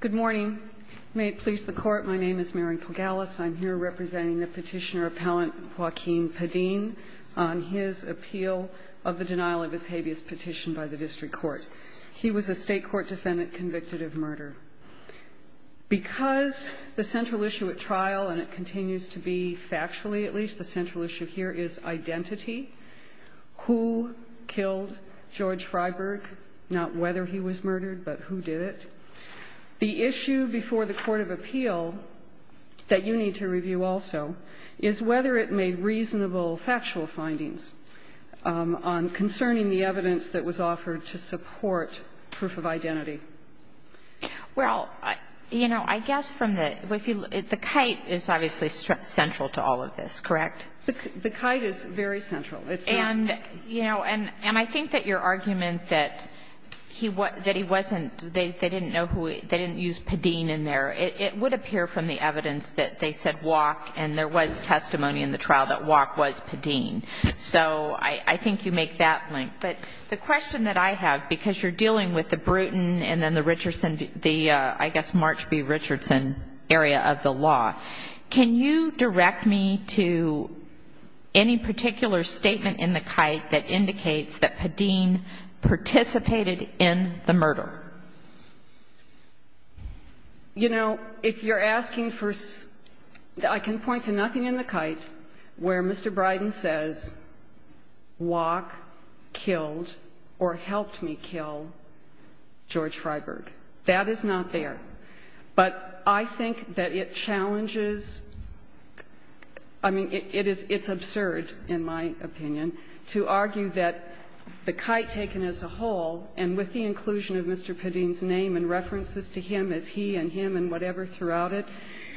Good morning. May it please the court, my name is Mary Pogalis. I'm here representing the petitioner-appellant Joaquin Padin on his appeal of the denial of his habeas petition by the district court. He was a state court defendant convicted of murder. Because the central issue at trial, and it continues to be factually at least, the central issue here is identity. Who killed George Freyberg? Not whether he was murdered, but who did it? The issue before the court of appeal that you need to review also is whether it made reasonable factual findings on concerning the evidence that was offered to support proof of identity. Well, you know, I guess from the, the kite is obviously central to all of this, correct? The kite is very central. And, you know, and I think that your argument that he wasn't, they didn't know who, they didn't use Padin in there, it would appear from the evidence that they said Wok, and there was testimony in the trial that Wok was Padin. So I think you make that link. But the question that I have, because you're dealing with the Bruton and then the Richardson, I guess March B. Richardson area of the law, can you direct me to any particular statement in the kite that indicates that Padin participated in the murder? You know, if you're asking for, I can point to nothing in the kite where Mr. Bryden says Wok killed or helped me kill George Freyberg. That is not there. But I think that it challenges, I mean, it is, it's absurd, in my opinion, to argue that the kite taken as a whole, and with the inclusion of Mr. Padin's name and references to him as he and him and whatever throughout it,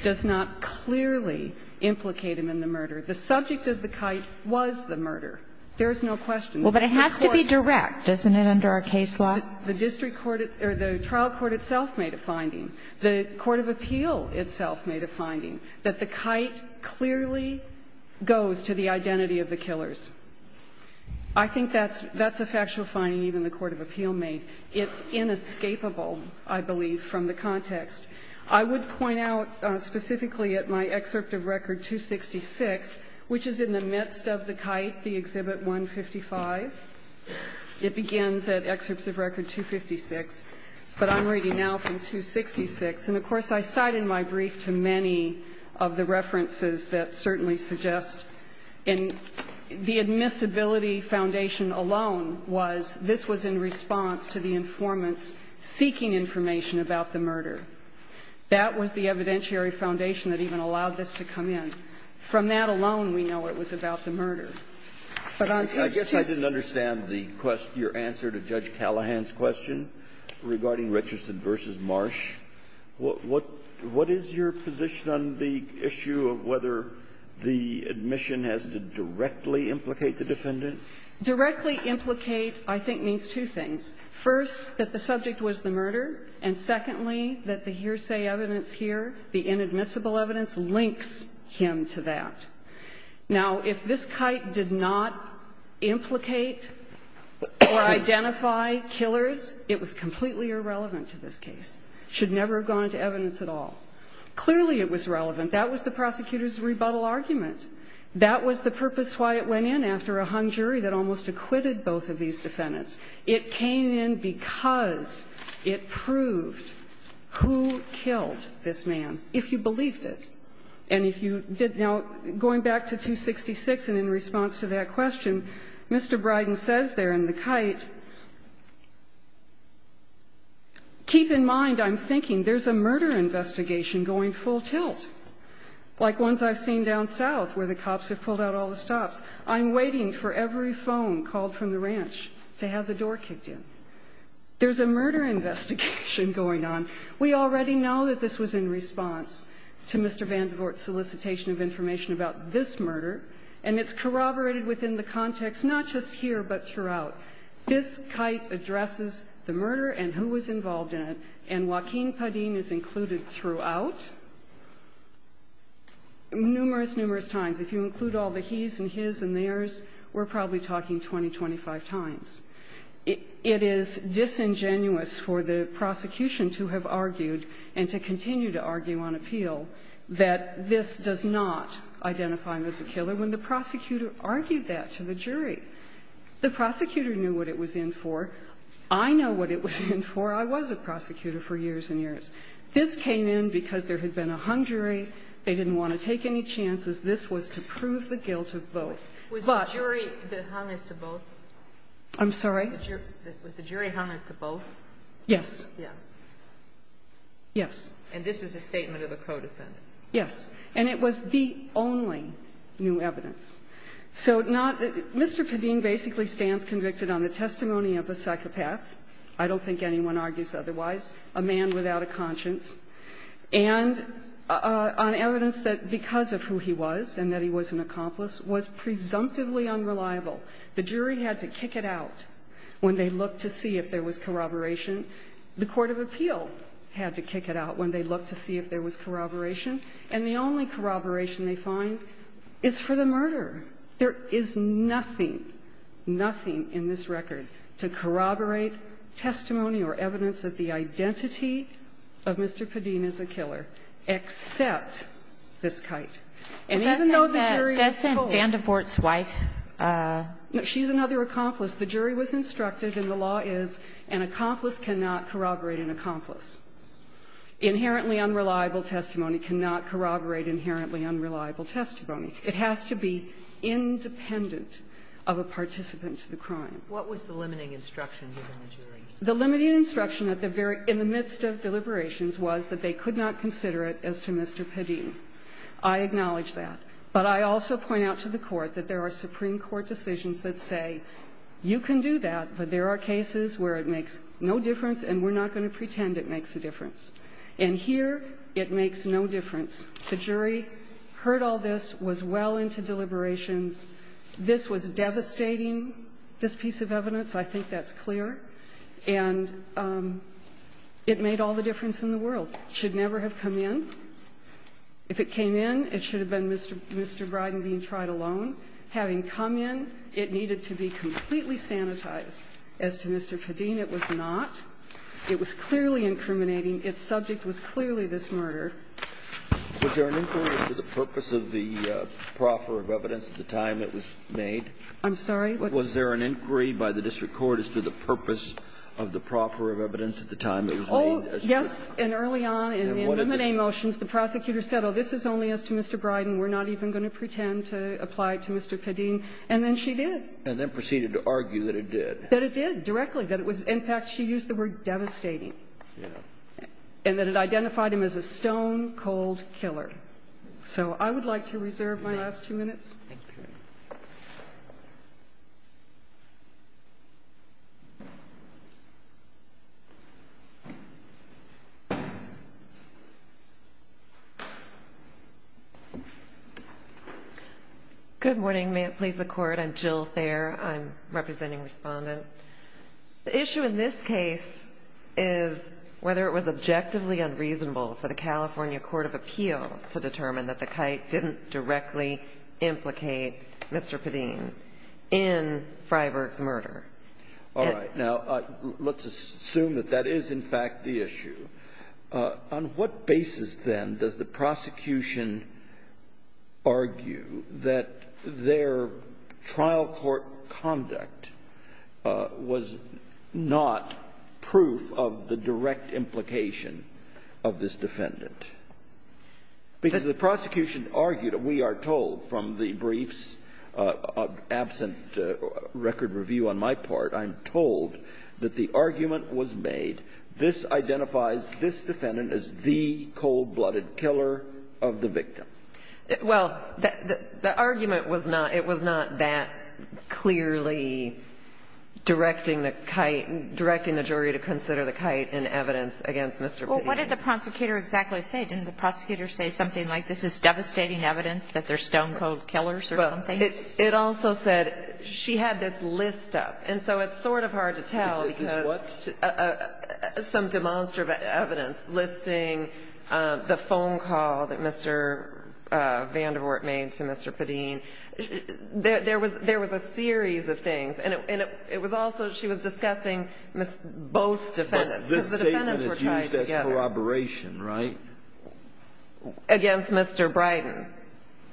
does not clearly implicate him in the murder. The subject of the kite was the murder. There is no question. Well, but it has to be direct, doesn't it, under our case law? The district court or the trial court itself made a finding. The court of appeal itself made a finding, that the kite clearly goes to the identity of the killers. I think that's a factual finding even the court of appeal made. It's inescapable, I believe, from the context. I would point out specifically at my excerpt of Record 266, which is in the midst of the kite, the Exhibit 155. It begins at excerpts of Record 256, but I'm reading now from 266. And, of course, I cite in my brief to many of the references that certainly suggest in the admissibility foundation alone was this was in response to the informants seeking information about the murder. That was the evidentiary foundation that even allowed this to come in. I guess I didn't understand the question, your answer to Judge Callahan's question regarding Richardson v. Marsh. What is your position on the issue of whether the admission has to directly implicate the defendant? Directly implicate, I think, means two things. First, that the subject was the murder, and secondly, that the hearsay evidence here, the inadmissible evidence, links him to that. Now, if this kite did not implicate or identify killers, it was completely irrelevant to this case. It should never have gone into evidence at all. Clearly, it was relevant. That was the prosecutor's rebuttal argument. That was the purpose why it went in after a hung jury that almost acquitted both of these defendants. It came in because it proved who killed this man, if you believed it. And if you did not, going back to 266 and in response to that question, Mr. Bryden says there in the kite, keep in mind, I'm thinking, there's a murder investigation going full tilt, like ones I've seen down south where the cops have pulled out all the stops. I'm waiting for every phone call from the ranch to have the door kicked in. There's a murder investigation going on. We already know that this was in response to Mr. Vandenvoort's solicitation of information about this murder, and it's corroborated within the context, not just here, but throughout. This kite addresses the murder and who was involved in it, and Joaquin Padin is included throughout numerous, numerous times. If you include all the he's and his and theirs, we're probably talking 20, 25 times. It is disingenuous for the prosecution to have argued and to continue to argue on appeal that this does not identify him as a killer when the prosecutor argued that to the jury. The prosecutor knew what it was in for. I know what it was in for. I was a prosecutor for years and years. This came in because there had been a hung jury. They didn't want to take any chances. This was to prove the guilt of both. Was the jury that hung as to both? I'm sorry? Was the jury hung as to both? Yes. Yeah. Yes. And this is a statement of the co-defendant? Yes. And it was the only new evidence. So not Mr. Padin basically stands convicted on the testimony of the psychopath I don't think anyone argues otherwise, a man without a conscience, and on evidence that because of who he was and that he was an accomplice was presumptively unreliable. The jury had to kick it out when they looked to see if there was corroboration. The court of appeal had to kick it out when they looked to see if there was corroboration. And the only corroboration they find is for the murder. There is nothing, nothing in this record to corroborate testimony or evidence that the identity of Mr. Padin is a killer, except this kite. And even though the jury was told. But that's in Vanderbort's wife. No. She's another accomplice. The jury was instructed, and the law is an accomplice cannot corroborate an accomplice. Inherently unreliable testimony cannot corroborate inherently unreliable testimony. It has to be independent of a participant to the crime. What was the limiting instruction within the jury? The limiting instruction in the midst of deliberations was that they could not consider it as to Mr. Padin. I acknowledge that. But I also point out to the Court that there are Supreme Court decisions that say you can do that, but there are cases where it makes no difference and we're not going to pretend it makes a difference. And here it makes no difference. The jury heard all this, was well into deliberations. This was devastating, this piece of evidence. I think that's clear. And it made all the difference in the world. It should never have come in. If it came in, it should have been Mr. Briden being tried alone. Having come in, it needed to be completely sanitized. As to Mr. Padin, it was not. It was clearly incriminating. Its subject was clearly this murder. Was there an inquiry to the purpose of the proffer of evidence at the time it was made? I'm sorry? Was there an inquiry by the district court as to the purpose of the proffer of evidence at the time it was made? Yes. And early on in the amnesty motions, the prosecutor said, oh, this is only as to Mr. Briden. We're not even going to pretend to apply it to Mr. Padin. And then she did. And then proceeded to argue that it did. That it did, directly. That it was, in fact, she used the word devastating. And that it identified him as a stone-cold killer. So I would like to reserve my last two minutes. Thank you. Good morning. May it please the Court. I'm Jill Thayer. I'm representing Respondent. The issue in this case is whether it was objectively unreasonable for the California Court of Appeal to determine that the kite didn't directly implicate Mr. Padin in Freiberg's murder. All right. Now, let's assume that that is, in fact, the issue. On what basis, then, does the prosecution argue that their trial court conduct was not proof of the direct implication of this defendant? Because the prosecution argued, we are told from the briefs, absent record review on my part, I'm told that the argument was made, this identifies this defendant as the cold-blooded killer of the victim. Well, the argument was not. It was not that clearly directing the kite, directing the jury to consider the kite in evidence against Mr. Padin. Well, what did the prosecutor exactly say? Didn't the prosecutor say something like this is devastating evidence that they're stone-cold killers or something? Well, it also said she had this list up. And so it's sort of hard to tell because some demonstrative evidence listing the phone call that Mr. Vandewort made to Mr. Padin. There was a series of things. And it was also, she was discussing both defendants. But this statement is used as corroboration, right? Against Mr. Bryden.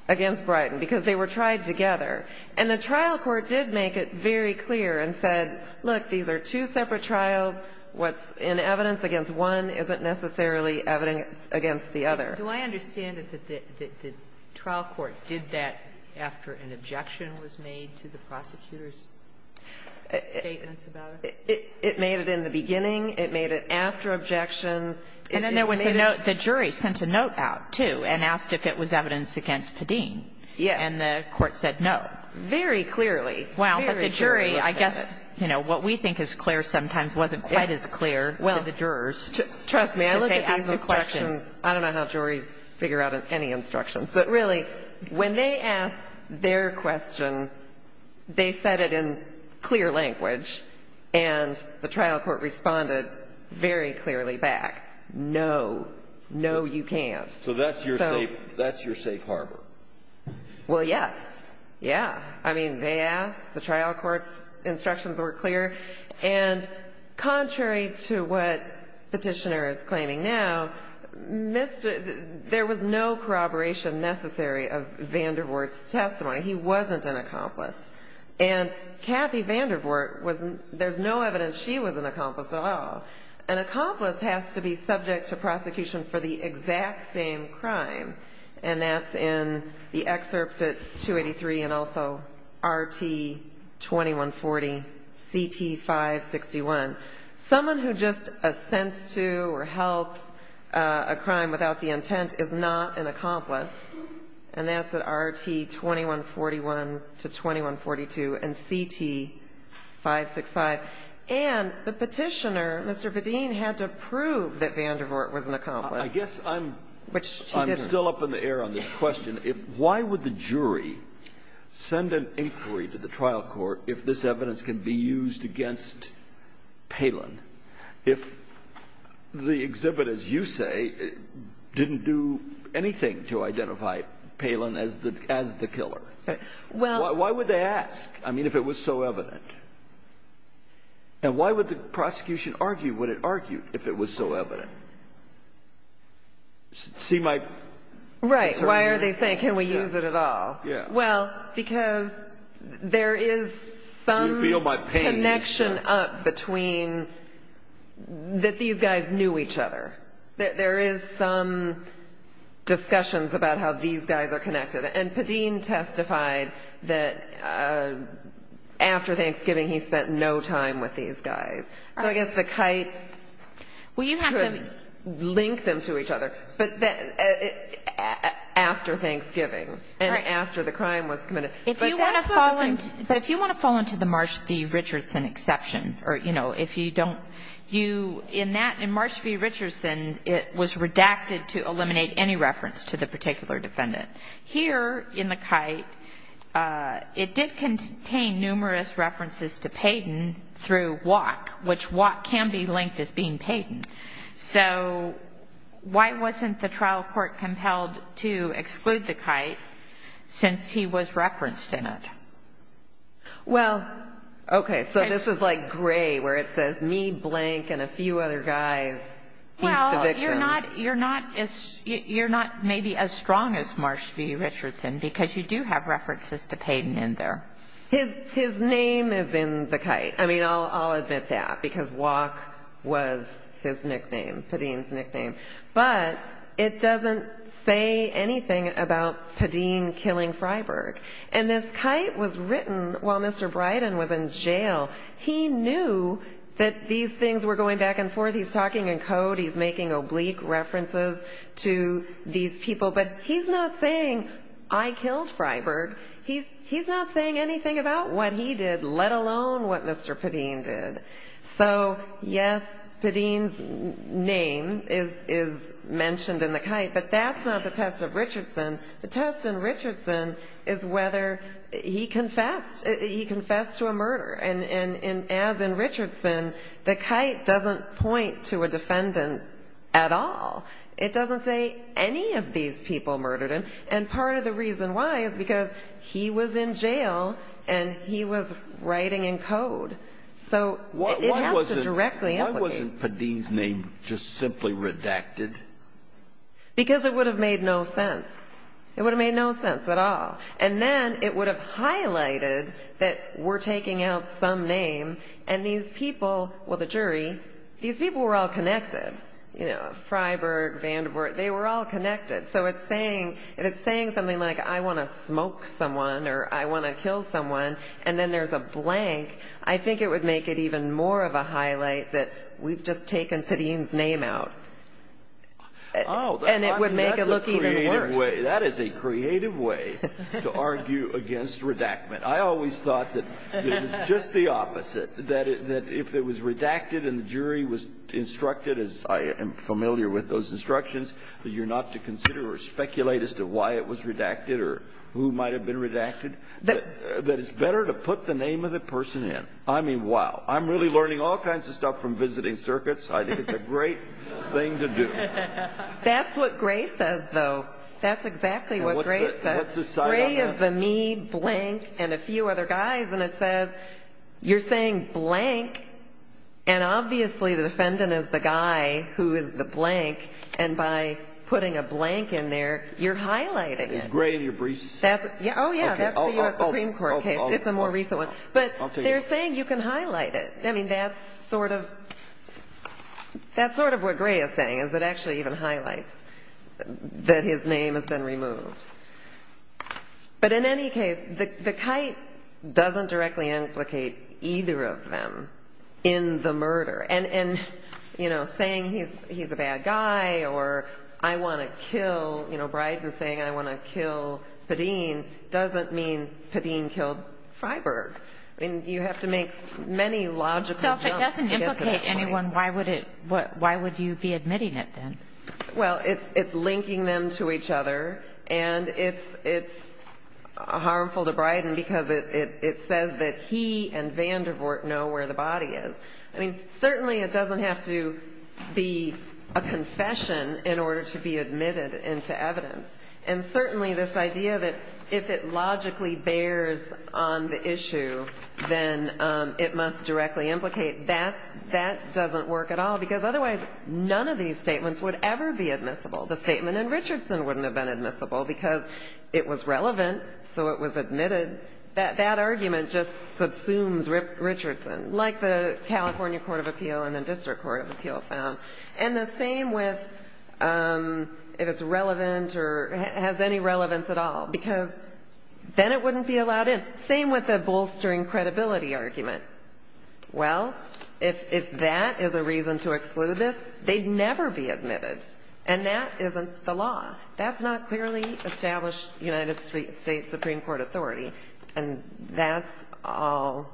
Against Bryden, because they were tried together. And the trial court did make it very clear and said, look, these are two separate trials, what's in evidence against one isn't necessarily evidence against the other. Do I understand that the trial court did that after an objection was made to the prosecutor's statements about it? It made it in the beginning. It made it after objections. And then there was a note. The jury sent a note out, too, and asked if it was evidence against Padin. Yes. And the court said no. Very clearly. Well, but the jury, I guess, you know, what we think is clear sometimes wasn't quite as clear to the jurors. Trust me, I look at these instructions. I don't know how juries figure out any instructions. But really, when they asked their question, they said it in clear language. And the trial court responded very clearly back, no, no, you can't. So that's your safe harbor. Well, yes. Yeah. I mean, they asked. The trial court's instructions were clear. And contrary to what Petitioner is claiming now, there was no corroboration necessary of Vandervoort's testimony. He wasn't an accomplice. And Kathy Vandervoort, there's no evidence she was an accomplice at all. An accomplice has to be subject to prosecution for the exact same crime. And that's in the excerpts at 283 and also RT 2140, CT 561. Someone who just assents to or helps a crime without the intent is not an accomplice. And that's at RT 2141 to 2142 and CT 565. And the Petitioner, Mr. Bedeen, had to prove that Vandervoort was an accomplice. I guess I'm still up in the air on this question. Why would the jury send an inquiry to the trial court if this evidence can be used against Palin, if the exhibit, as you say, didn't do anything to identify Palin as the killer? Why would they ask, I mean, if it was so evident? And why would the prosecution argue what it argued if it was so evident? See my concern here? Right. Why are they saying can we use it at all? Well, because there is some connection up between that these guys knew each other. There is some discussions about how these guys are connected. And Bedeen testified that after Thanksgiving he spent no time with these guys. So I guess the kite could link them to each other. But after Thanksgiving and after the crime was committed. But if you want to fall into the Marsh v. Richardson exception, or, you know, if you don't, in Marsh v. Richardson it was redacted to eliminate any reference to the particular defendant. Here in the kite it did contain numerous references to Payden through Watt, which Watt can be linked as being Payden. So why wasn't the trial court compelled to exclude the kite since he was referenced in it? Well, okay, so this is like gray where it says me blank and a few other guys, he's the victim. Well, you're not maybe as strong as Marsh v. Richardson because you do have references to Payden in there. His name is in the kite. I mean, I'll admit that because Watt was his nickname, Payden's nickname. But it doesn't say anything about Payden killing Freiberg. And this kite was written while Mr. Bryden was in jail. He knew that these things were going back and forth. He's talking in code. He's making oblique references to these people. But he's not saying, I killed Freiberg. He's not saying anything about what he did, let alone what Mr. Payden did. So, yes, Payden's name is mentioned in the kite, but that's not the test of Richardson. The test in Richardson is whether he confessed. He confessed to a murder. And as in Richardson, the kite doesn't point to a defendant at all. It doesn't say any of these people murdered him. And part of the reason why is because he was in jail, and he was writing in code. So it has to directly implicate. Why wasn't Payden's name just simply redacted? Because it would have made no sense. It would have made no sense at all. And then it would have highlighted that we're taking out some name, and these people, well, the jury, these people were all connected. You know, Freiberg, Vanderbilt, they were all connected. So if it's saying something like, I want to smoke someone or I want to kill someone, and then there's a blank, I think it would make it even more of a highlight that we've just taken Payden's name out. And it would make it look even worse. That is a creative way to argue against redactment. I always thought that it was just the opposite, that if it was redacted and the jury was instructed, as I am familiar with those instructions, that you're not to consider or speculate as to why it was redacted or who might have been redacted. That it's better to put the name of the person in. I mean, wow. I'm really learning all kinds of stuff from visiting circuits. I think it's a great thing to do. That's what Gray says, though. That's exactly what Gray says. Gray is the me, blank, and a few other guys. And it says, you're saying blank, and obviously the defendant is the guy who is the blank. And by putting a blank in there, you're highlighting it. Is Gray in your briefs? Oh, yeah, that's the U.S. Supreme Court case. It's a more recent one. But they're saying you can highlight it. I mean, that's sort of what Gray is saying, is that it actually even highlights that his name has been removed. But in any case, the kite doesn't directly implicate either of them in the murder. And, you know, saying he's a bad guy or I want to kill, you know, Bryden saying I want to kill Padin doesn't mean Padin killed Freiberg. I mean, you have to make many logical jumps to get to that point. So if it doesn't implicate anyone, why would you be admitting it then? Well, it's linking them to each other. And it's harmful to Bryden because it says that he and Vandervoort know where the body is. I mean, certainly it doesn't have to be a confession in order to be admitted into evidence. And certainly this idea that if it logically bears on the issue, then it must directly implicate, that doesn't work at all. Because otherwise none of these statements would ever be admissible. The statement in Richardson wouldn't have been admissible because it was relevant, so it was admitted. That argument just subsumes Richardson, like the California Court of Appeal and the District Court of Appeal found. And the same with if it's relevant or has any relevance at all, because then it wouldn't be allowed in. Same with the bolstering credibility argument. Well, if that is a reason to exclude this, they'd never be admitted. And that isn't the law. That's not clearly established United States Supreme Court authority. And that's all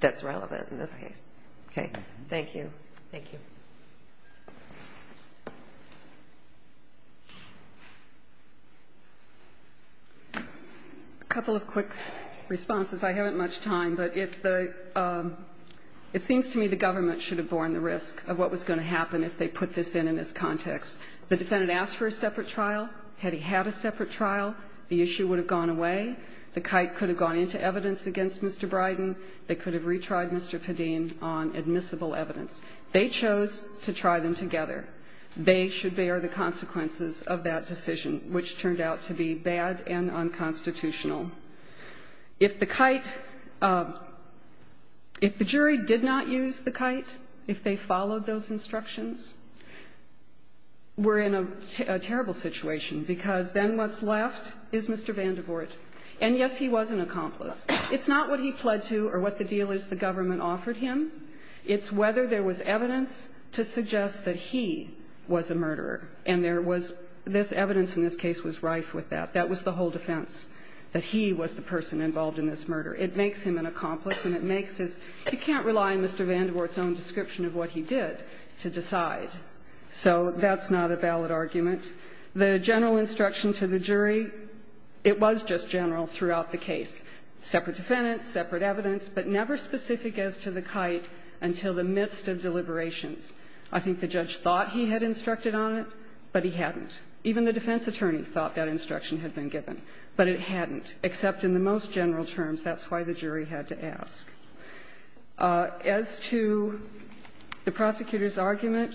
that's relevant in this case. Okay. Thank you. Thank you. A couple of quick responses. I haven't much time, but if the – it seems to me the government should have borne the risk of what was going to happen if they put this in in this context. The defendant asked for a separate trial. Had he had a separate trial, the issue would have gone away. The kite could have gone into evidence against Mr. Bryden. They could have retried Mr. Padin on admissible evidence. They chose to try them together. They should bear the consequences of that decision, which turned out to be bad and unconstitutional. If the kite – if the jury did not use the kite, if they followed those instructions, we're in a terrible situation, because then what's left is Mr. Vandervoort. And, yes, he was an accomplice. It's not what he pled to or what the dealers, the government, offered him. It's whether there was evidence to suggest that he was a murderer. And there was – this evidence in this case was rife with that. That was the whole defense, that he was the person involved in this murder. It makes him an accomplice, and it makes his – you can't rely on Mr. Vandervoort's own description of what he did to decide. So that's not a valid argument. The general instruction to the jury, it was just general throughout the case, separate defendants, separate evidence, but never specific as to the kite until the midst of deliberations. I think the judge thought he had instructed on it, but he hadn't. Even the defense attorney thought that instruction had been given, but it hadn't, except in the most general terms. That's why the jury had to ask. As to the prosecutor's argument,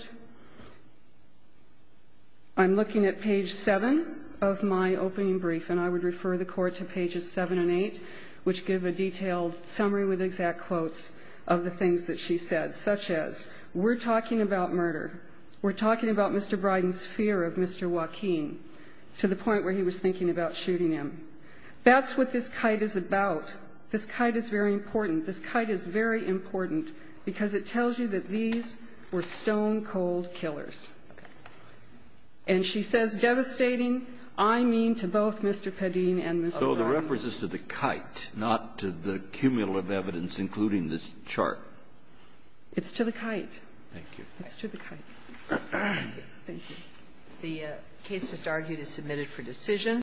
I'm looking at page 7 of my opening brief, and I would refer the Court to pages 7 and 8, which give a detailed summary with exact quotes of the things that she said, such as, we're talking about murder, we're talking about Mr. Bryden's fear of Mr. Joaquin, to the point where he was thinking about shooting him. That's what this kite is about. This kite is very important. This kite is very important because it tells you that these were stone-cold killers. And she says, devastating, I mean to both Mr. Padin and Mr. Bryden. So the reference is to the kite, not to the cumulative evidence including this chart. It's to the kite. Thank you. The case just argued is submitted for decision.